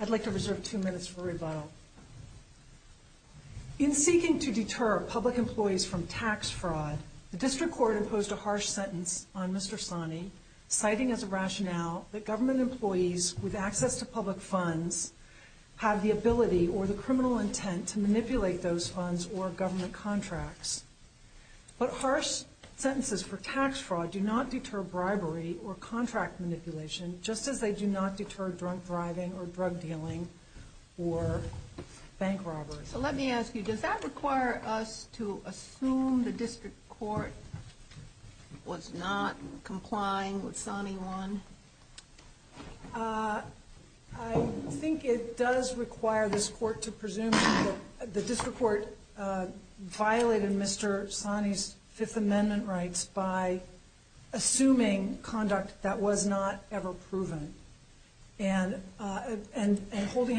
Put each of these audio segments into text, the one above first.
I'd like to reserve two minutes for rebuttal. In seeking to deter public employees from tax fraud, the District Court imposed a harsh sentence on Mr. Saani, citing as a rationale that government employees with access to public funds have the ability or the criminal intent to manipulate those funds or government contracts. But harsh sentences for tax fraud do not deter bribery or contract manipulation, just as they do not deter drunk driving or drug dealing or bank robberies. So let me ask you, does that require us to assume the District Court was not complying with Saani 1? I think it does require this Court to presume. The District Court violated Mr. Saani's Fifth Amendment rights by assuming conduct that was not ever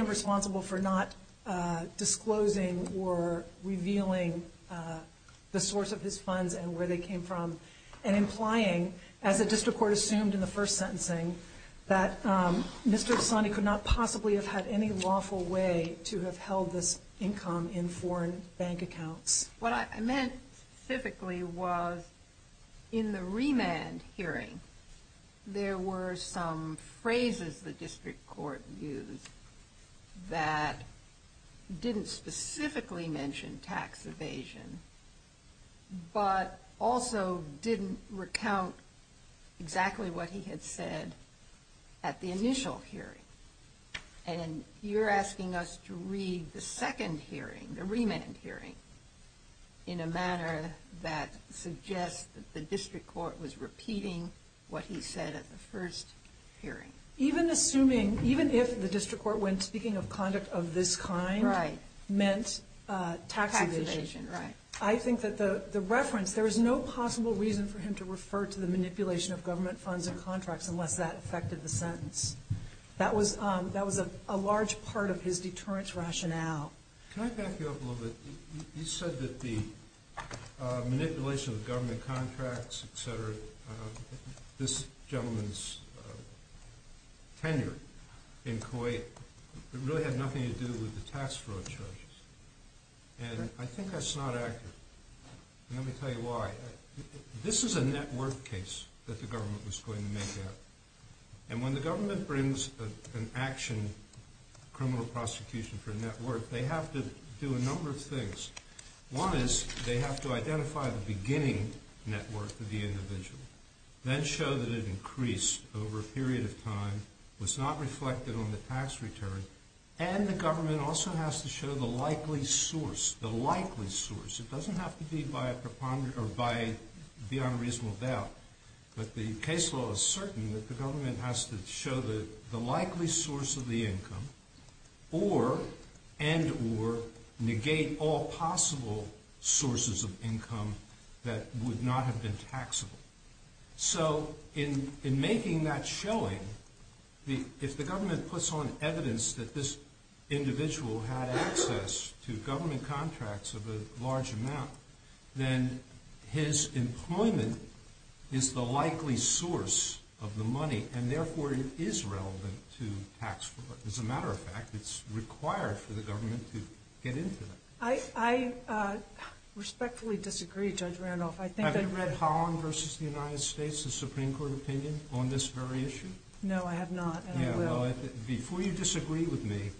responsible for not disclosing or revealing the source of his funds and where they came from, and implying, as the District Court assumed in the first sentencing, that Mr. Saani could not possibly have had any lawful way to have held this income in foreign bank accounts. What I meant specifically was, in the remand hearing, there were some phrases the District Court used that didn't specifically mention tax evasion, but also didn't recount exactly what he had said at the initial hearing. And you're asking us to read the second hearing, the remand hearing, in a manner that suggests that the District Court was repeating what he said at the first hearing? Even assuming, even if the District Court, when speaking of conduct of this kind, meant tax evasion, I think that the reference, there was no possible reason for him to refer to the manipulation of government funds and contracts unless that affected the sentence. That was a large part of his deterrence rationale. Can I back you up a little bit? You said that the manipulation of government contracts, etc., this gentleman's tenure in Kuwait really had nothing to do with the tax fraud charges. And I think that's not accurate. And let me tell you why. This is a network case that the government was going to make out. And when the government brings an action, criminal prosecution for a network, they have to do a number of things. One is they have to identify the beginning network of the individual, then show that it increased over a period of time, was not reflected on the tax return. And the government also has to show the likely source, the likely source. It doesn't have to be by a preponderant or by beyond reasonable doubt. But the case law is certain that the government has to show the likely source of the income and or negate all possible sources of income that would not have been taxable. So in making that showing, if the government puts on evidence that this individual had access to government contracts of a large amount, then his employment is the likely source of the money and therefore it is relevant to tax fraud. As a matter of fact, it's required for the government to get into that. I respectfully disagree, Judge Randolph. Have you read Holland v. The United States, the Supreme Court opinion on this very issue? No, I have not. Before you disagree with me,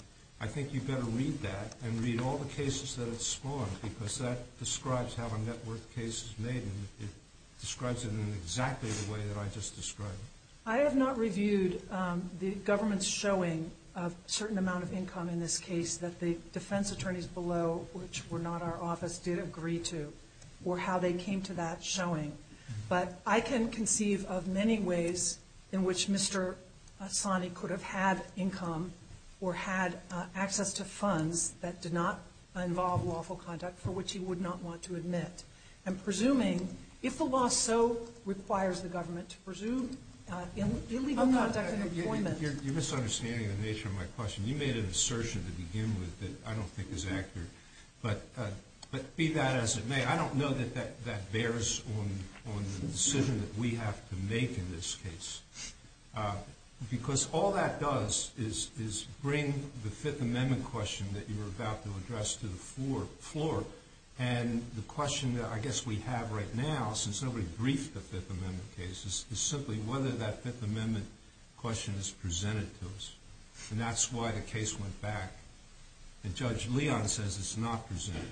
I think you better read that and read all cases that have spawned because that describes how a network case is made and it describes it in exactly the way that I just described. I have not reviewed the government's showing of a certain amount of income in this case that the defense attorneys below, which were not our office, did agree to or how they came to that showing. But I can conceive of many ways in which Mr. Assani could have had income or had access to funds that did not involve lawful conduct for which he would not want to admit. I'm presuming, if the law so requires the government to presume, illegal conduct and employment... You're misunderstanding the nature of my question. You made an assertion to begin with that I don't think is accurate. But be that as it may, I don't know that that bears on the decision that we have to make in this case. Because all that does is bring the Fifth Amendment question that you were about to address to the floor. And the question that I guess we have right now, since nobody briefed the Fifth Amendment case, is simply whether that Fifth Amendment question is presented to us. And that's why the case went back. And Judge Leon says it's not presented.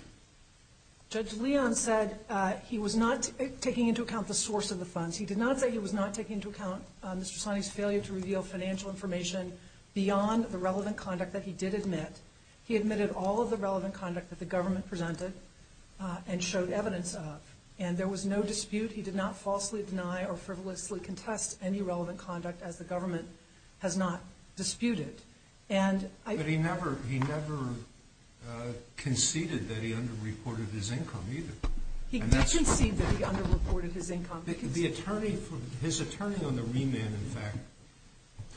Judge Leon said he was not taking into account the source of the funds. He did not say he was not taking into account Mr. Assani's failure to reveal financial information beyond the relevant conduct that he did admit. He admitted all of the relevant conduct that the government presented and showed evidence of. And there was no dispute. He did not falsely deny or frivolously contest any relevant conduct as the government has not disputed. But he never conceded that he underreported his income either. He did concede that he underreported his income. His attorney on the remand, in fact,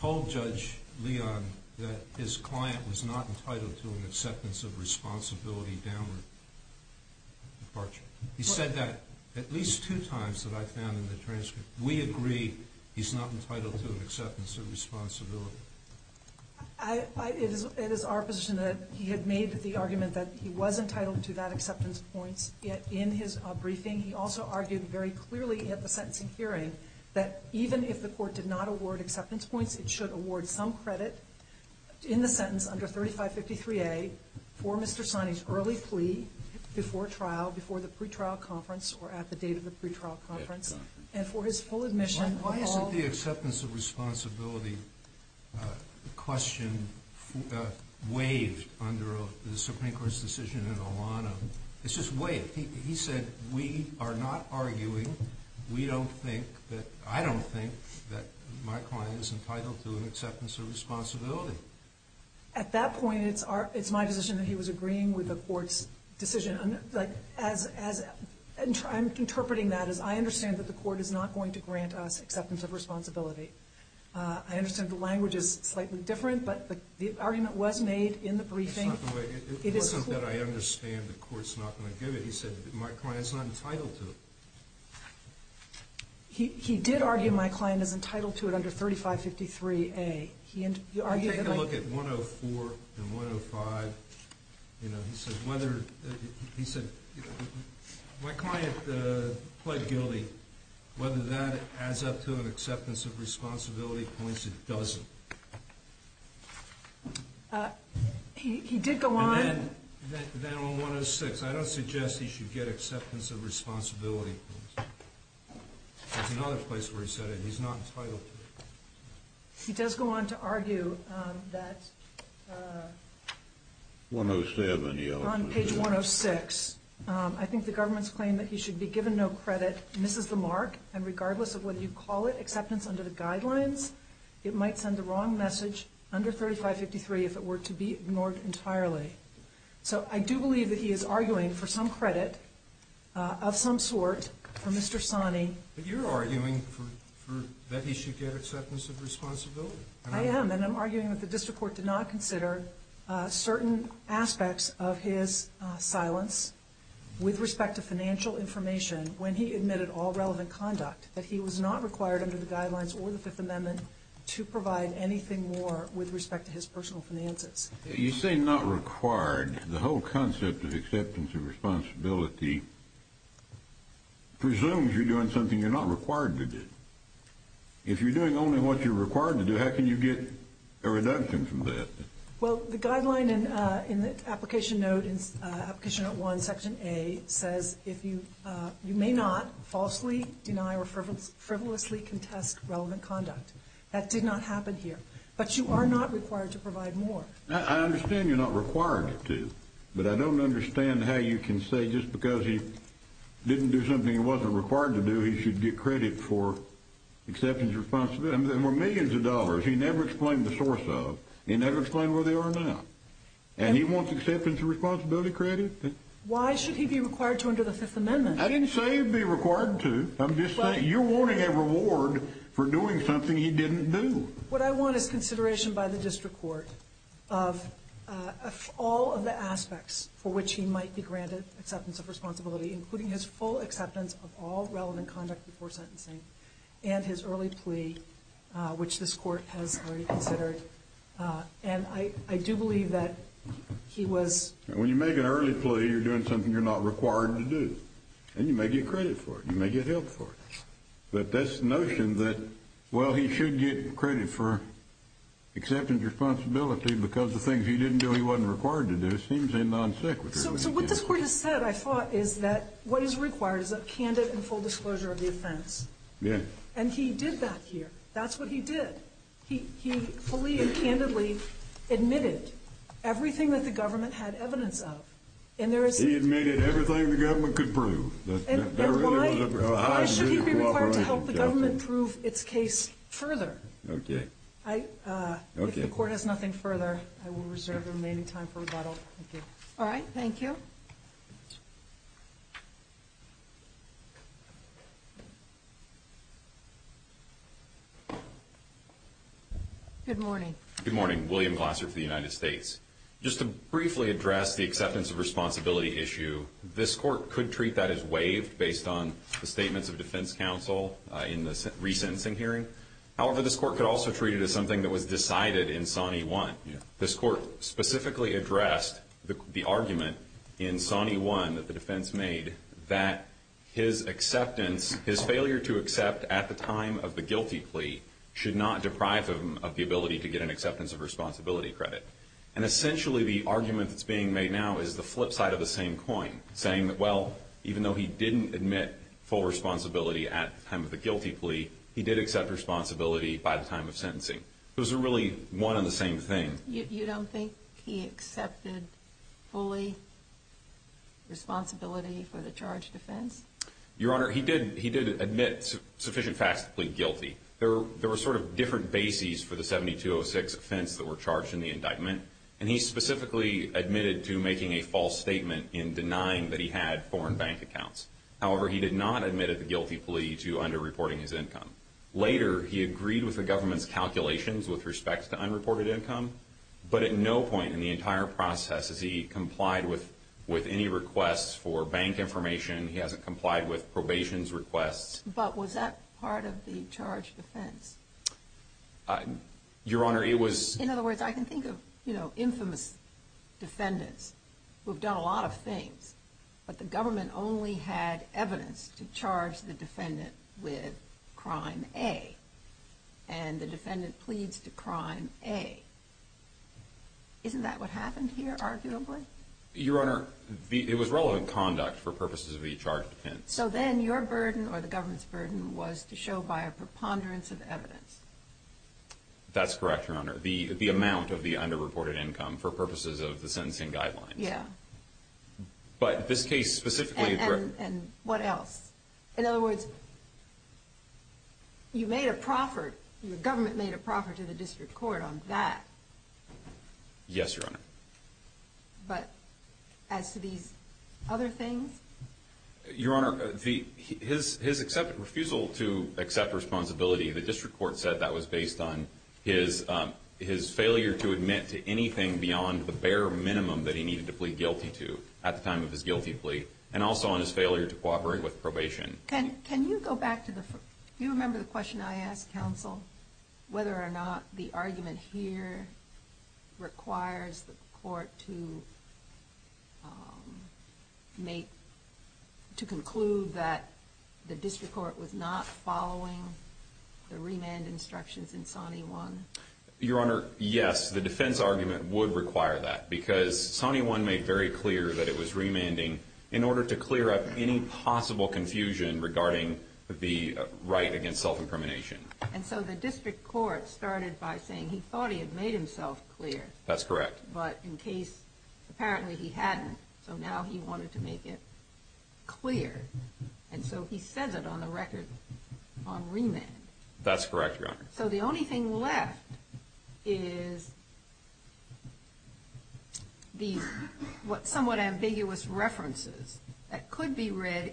told Judge Leon that his client was not entitled to an acceptance of responsibility downward departure. He said that at least two times that I found in the transcript. We agree he's not entitled to an acceptance of responsibility. I, it is our position that he had made the argument that he was entitled to that acceptance points. Yet in his briefing, he also argued very clearly at the sentencing hearing that even if the Court did not award acceptance points, it should award some credit in the sentence under 3553A for Mr. Assani's early plea before trial, before the pretrial conference, and for his full admission. Why isn't the acceptance of responsibility question waived under the Supreme Court's decision in Alanna? It's just waived. He said we are not arguing. We don't think that, I don't think that my client is entitled to an acceptance of responsibility. At that point, it's our, it's my position that he was agreeing with the Court's decision. I'm interpreting that as I understand that the Court is not going to grant us acceptance of responsibility. I understand the language is slightly different, but the argument was made in the briefing. It's not the way, it wasn't that I understand the Court's not going to give it. He said my client's not entitled to it. He did argue my client is entitled to it under 3553A. He argued Take a look at 104 and 105. You know, he said whether, he said my client pled guilty. Whether that adds up to an acceptance of responsibility points, it doesn't. He did go on. Then on 106, I don't suggest he should get acceptance of responsibility. There's another place where he said it. He's not entitled to it. He does go on to argue that 107. On page 106, I think the government's claim that he should be given no credit misses the mark, and regardless of whether you call it acceptance under the guidelines, it might send the wrong message under 3553 if it were to be ignored entirely. So I do believe that he is arguing for some credit of some sort for Mr. Sani. But you're arguing that he should get acceptance of responsibility. I am, and I'm arguing that the District Court did not consider certain aspects of his silence with respect to financial information when he admitted all relevant conduct, that he was not required under the guidelines or the Fifth Amendment to provide anything more with respect to his personal finances. You say not required. The whole concept of acceptance of responsibility presumes you're doing something you're not required to do. If you're doing only what you're required to do, how can you get a reduction from that? Well, the guideline in the Application Note 1, Section A, says you may not falsely deny or frivolously contest relevant conduct. That did not happen here. But you are not required to provide more. I understand you're not required to, but I don't understand how you can say just because he didn't do something he wasn't required to do, he should get credit for acceptance of responsibility. There were millions of dollars he never explained the source of. He never explained where they are now. And he wants acceptance of responsibility credit? Why should he be required to under the Fifth Amendment? I didn't say he'd be required to. I'm just saying you're wanting a reward for doing something he didn't do. What I want is consideration by the district court of all of the aspects for which he might be granted acceptance of responsibility, including his full acceptance of all relevant conduct before sentencing and his early plea, which this court has already considered. And I do believe that he was... When you make an early plea, you're doing something you're not required to do. And you may get credit for it. You may get help for it. But this notion that, well, he should get credit for acceptance of responsibility because the things he didn't do he wasn't required to do seems innocent. So what this court has said, I thought, is that what is required is a candid and full disclosure of the offense. Yeah. And he did that here. That's what he did. He fully and And there is... He admitted everything the government could prove. Why should he be required to help the government prove its case further? Okay. If the court has nothing further, I will reserve the remaining time for rebuttal. Thank you. All right. Thank you. Good morning. Good morning. William Glasser for the United States. Just to briefly address the acceptance of responsibility issue, this court could treat that as waived based on the statements of defense counsel in the resentencing hearing. However, this court could also treat it as something that was decided in Sonny 1. This court specifically addressed the argument in Sonny 1 that the defense made that his acceptance, his failure to accept at the time of the guilty plea should not deprive him of the ability to get an acceptance of guilt. Essentially, the argument that's being made now is the flip side of the same coin, saying that, well, even though he didn't admit full responsibility at the time of the guilty plea, he did accept responsibility by the time of sentencing. Those are really one and the same thing. You don't think he accepted fully responsibility for the charged offense? Your Honor, he did. He did admit sufficient facts to plead guilty. There were sort of different bases for the 7206 offense that were charged in the indictment, and he specifically admitted to making a false statement in denying that he had foreign bank accounts. However, he did not admit at the guilty plea to underreporting his income. Later, he agreed with the government's calculations with respect to unreported income, but at no point in the entire process has he complied with any requests for bank information. He hasn't complied with probation's requests. But was that part of the charged offense? Your Honor, it was... In other words, I can think of infamous defendants who have done a lot of things, but the government only had evidence to charge the defendant with crime A, and the defendant pleads to crime A. Isn't that what happened here, arguably? Your Honor, it was relevant conduct for purposes of the charged offense. So then your burden, or the government's burden, was to show by a preponderance of evidence. That's correct, Your Honor. The amount of the underreported income for purposes of the sentencing guidelines. But this case specifically... And what else? In other words, you made a proffert, your government made a proffert to the district court on that. Yes, Your Honor. But as to these other things? Your Honor, his refusal to accept responsibility, the district court said that was based on his failure to admit to anything beyond the bare minimum that he needed to plead guilty to at the time of his guilty plea, and also on his failure to cooperate with probation. Can you go back to the... Do you remember the question I asked, counsel? Whether or not the argument here requires the court to conclude that the district court was not following the remand instructions in Sonny 1? Your Honor, yes. The defense argument would require that, because Sonny 1 made very clear that it was remanding in order to clear up any possible confusion regarding the right against self-incrimination. And so the district court started by saying he thought he had made himself clear. That's correct. But in case, apparently he hadn't, so now he wanted to make it clear. And so he says it on the record on remand. That's correct, Your Honor. So the only thing left is these somewhat ambiguous references that could be read in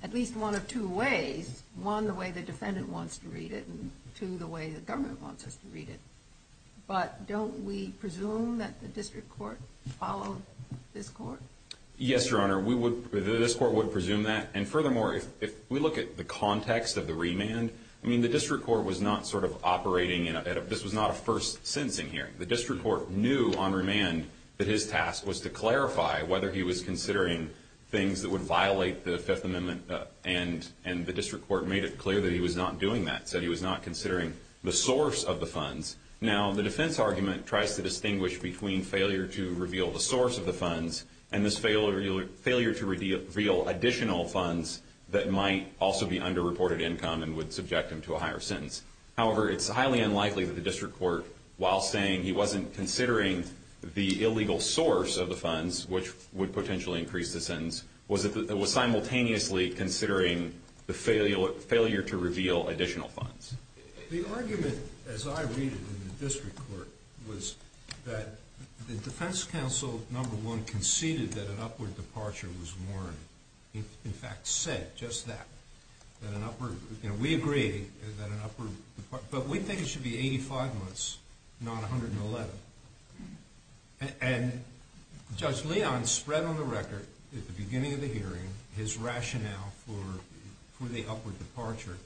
at least one of two ways. One, the way the defendant wants to read it. And two, the way the government wants us to read it. But don't we presume that the district court followed this court? Yes, Your Honor. We would... This court would presume that. And furthermore, if we look at the context of the remand, I mean, the district court was not sort of operating in a... This was not a first sentencing hearing. The district court knew on remand that his task was to clarify whether he was considering things that would violate the Fifth Amendment. And the district court made it clear that he was not doing that. Said he was not considering the source of the funds. Now, the defense argument tries to distinguish between failure to reveal the source of the funds and this failure to reveal additional funds that might also be underreported income and would subject him to a higher sentence. However, it's highly unlikely that the district court, while saying he wasn't considering the illegal source of the funds, which would potentially increase the sentence, was simultaneously considering the failure to reveal additional funds. The argument, as I read it in the district court, was that the defense counsel, number one, conceded that an upward departure was warranted. In fact, said just that, that an upward... We agree that an upward... But we think it should be 85 months, not 111. And Judge Leon spread on the record at the beginning of the hearing his rationale for the upward departure.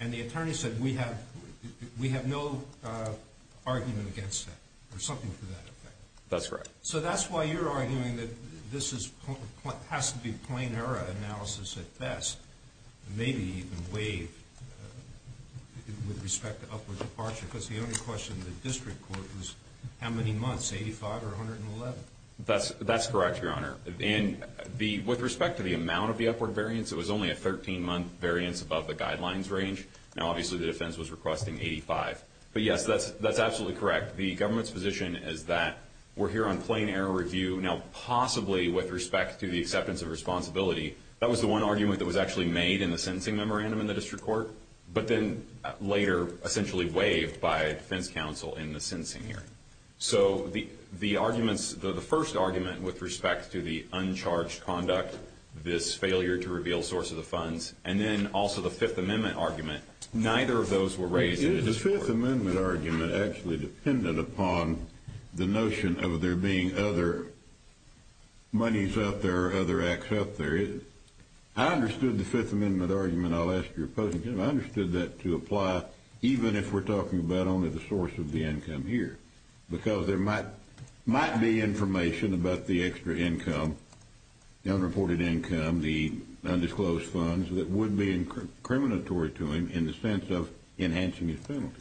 And the attorney said, we have no argument against that. Or something to that effect. That's right. So that's why you're arguing that this has to be plain error analysis at best. Maybe even waived with respect to upward departure. Because the only question the district court was, how many months? 85 or 111? That's correct, Your Honor. And with respect to the amount of the upward variance, it was only a 13-month variance above the guidelines range. Now, obviously, the defense was requesting 85. But yes, that's absolutely correct. The government's position is that we're here on plain error review. Now, possibly with respect to the acceptance of responsibility, that was the one argument that was actually made in the sentencing memorandum in the district court. But then later essentially waived by defense counsel in the sentencing hearing. So the arguments, the first argument with respect to the uncharged conduct, this failure to reveal source of the funds, and then also the Fifth Amendment argument, neither of those were raised in the district court. The Fifth Amendment argument actually depended upon the notion of there being other monies out there or other acts out there. I understood the Fifth Amendment argument. I understood that to apply even if we're talking about only the source of the income here. Because there might be information about the extra income, the unreported income, the undisclosed funds that would be incriminatory to him in the sense of enhancing his penalty.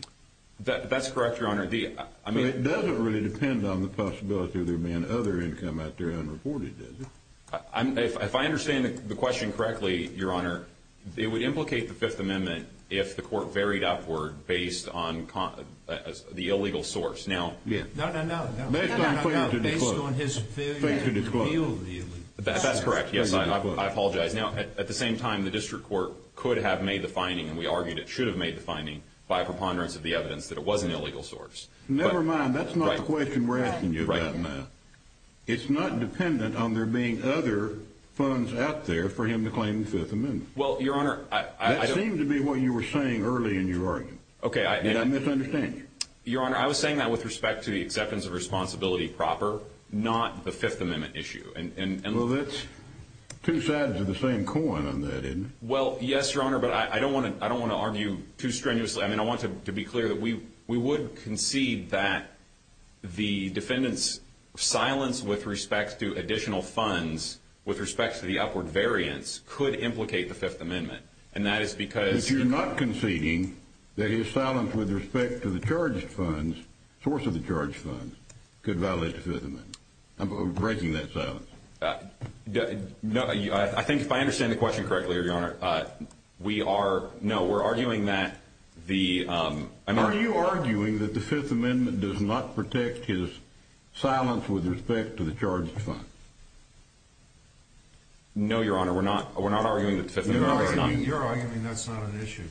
That's correct, Your Honor. It doesn't really depend on the possibility of there being other income out there unreported, does it? If I understand the question correctly, Your Honor, it would implicate the Fifth Amendment if the court varied upward based on the illegal source. No, no, no, based on his failure to reveal the illegal source. That's correct, yes, I apologize. Now, at the same time, the district court could have made the finding, and we argued it should have made the finding by preponderance of the evidence that it was an illegal source. Never mind, that's not the question we're asking you about now. It's not dependent on there being other funds out there for him to claim the Fifth Amendment. Well, Your Honor, I don't... That seemed to be what you were saying early in your argument. Okay, I... And I misunderstand you. Your Honor, I was saying that with respect to the acceptance of responsibility proper, not the Fifth Amendment issue, and... Well, that's two sides of the same coin on that, isn't it? Well, yes, Your Honor, but I don't want to argue too strenuously. I mean, I want to be clear that we would concede that the defendant's silence with respect to additional funds, with respect to the upward variance, could implicate the Fifth Amendment. And that is because... If you're not conceding that his silence with respect to the charged funds, source of the charged funds, could violate the Fifth Amendment. I'm breaking that silence. No, I think if I understand the question correctly, Your Honor, we are... No, we're arguing that the... Are you arguing that the Fifth Amendment does not protect his silence with respect to the charged funds? No, Your Honor, we're not. We're not arguing that the Fifth Amendment... You're arguing that's not an issue,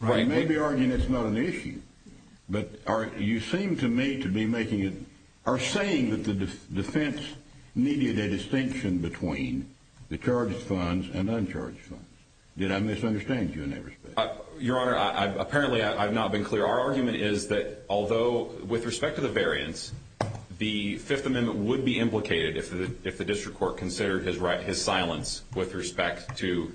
right? I may be arguing it's not an issue, but you seem to me to be making it... Or saying that the defense needed a distinction between the charged funds and uncharged funds. Did I misunderstand you in any respect? Your Honor, apparently, I've not been clear. Our argument is that although with respect to the variance, the Fifth Amendment would be implicated if the district court considered his silence with respect to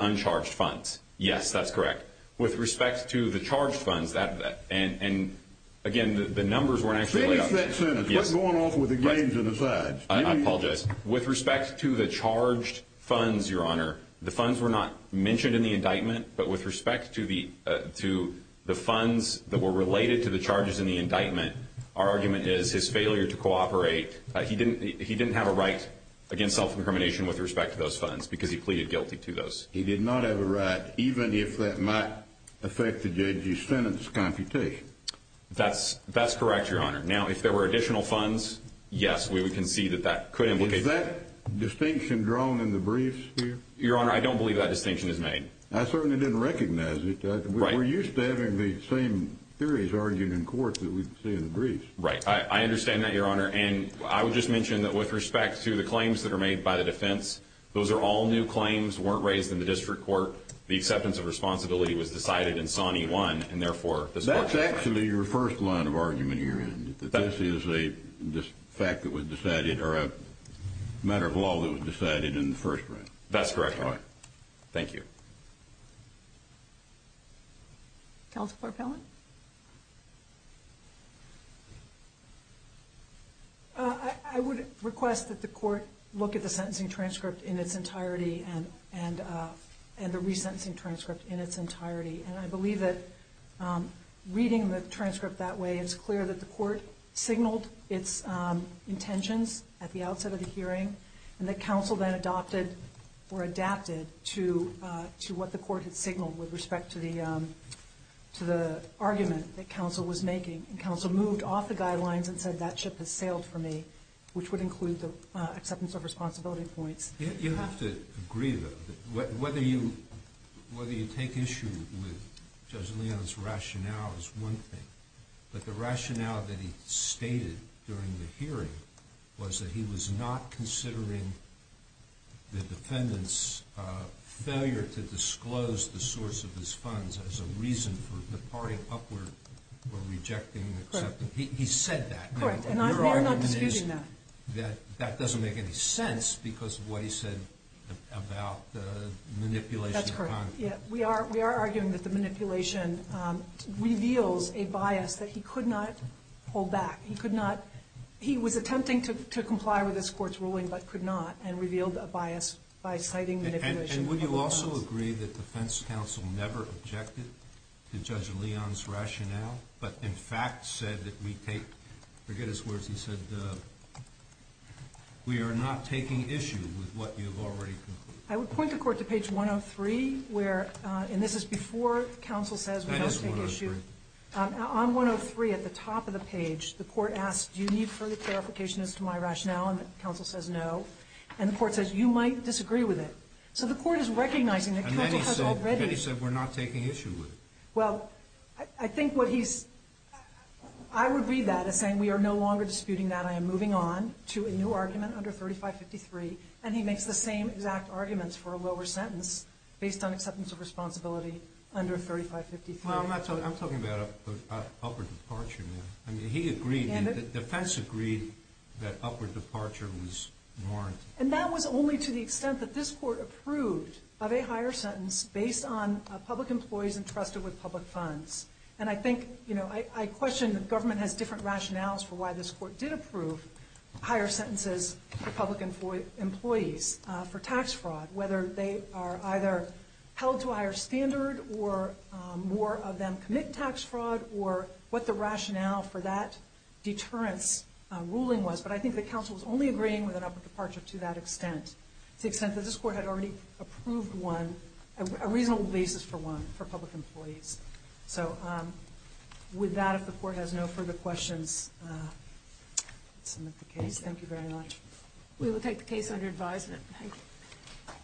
uncharged funds. Yes, that's correct. With respect to the charged funds, and again, the numbers weren't actually... Finish that sentence. We're going off with the games and the sides. I apologize. With respect to the charged funds, Your Honor, the funds were not mentioned in the indictment, but with respect to the funds that were related to the charges in the indictment, our argument is his failure to cooperate. He didn't have a right against self-incrimination with respect to those funds because he pleaded guilty to those. He did not have a right, even if that might affect the judge's sentence computation. That's correct, Your Honor. Now, if there were additional funds, yes, we can see that that could implicate... Is that distinction drawn in the briefs here? Your Honor, I don't believe that distinction is made. I certainly didn't recognize it. We're used to having the same theories argued in court that we see in the briefs. Right. I understand that, Your Honor, and I would just mention that with respect to the claims that are made by the defense, those are all new claims, weren't raised in the district court. The acceptance of responsibility was decided in Sonny 1, and therefore, this court... That's actually your first line of argument here, and that this is a fact that was decided or a matter of law that was decided in the first round. That's correct, Your Honor. Thank you. Counsel for Appellant? I would request that the court look at the sentencing transcript in its entirety and the resentencing transcript in its entirety, and I believe that reading the transcript that way, it's clear that the court signaled its intentions at the outset of the hearing, and that counsel then adopted or adapted to what the court had signaled with respect to the argument that counsel was making, and counsel moved off the guidelines and said that ship has sailed for me, which would include the acceptance of responsibility points. You have to agree, though, that whether you take issue with Judge Leon's rationale is one thing, but the rationale that he stated during the hearing was that he was not considering the defendant's failure to disclose the source of his funds as a reason for departing upward or rejecting the acceptance. He said that. Correct, and I'm not disputing that. That that doesn't make any sense because of what he said about the manipulation. That's correct, yeah. We are arguing that the manipulation reveals a bias that he could not hold back. He was attempting to comply with this court's ruling but could not and revealed a bias by citing manipulation. And would you also agree that defense counsel never objected to Judge Leon's rationale but, in fact, said that we take, forget his words, he said, we are not taking issue with what you've already concluded? I would point the court to page 103, where, and this is before counsel says we must take issue. That is 103. On 103, at the top of the page, the court asks, do you need further clarification as to my rationale? And counsel says no. And the court says, you might disagree with it. So the court is recognizing that he said we're not taking issue with it. Well, I think what he's, I would read that as saying we are no longer disputing that. I am moving on to a new argument under 3553. And he makes the same exact arguments for a lower sentence based on acceptance of responsibility under 3553. Well, I'm not talking, I'm talking about an upward departure, ma'am. I mean, he agreed, defense agreed that upward departure was warranted. And that was only to the extent that this court approved of a higher sentence based on public employees entrusted with public funds. And I think, you know, I question the government has different rationales for why this court did approve higher sentences for public employees for tax fraud, whether they are either held to a higher standard or more of them commit tax fraud or what the rationale for that deterrence ruling was. But I think the counsel was only agreeing with an upward departure to that extent, to the extent that this court had already approved one, a reasonable basis for one, for public employees. So with that, if the court has no further questions, submit the case. Thank you very much. We will take the case under advisement.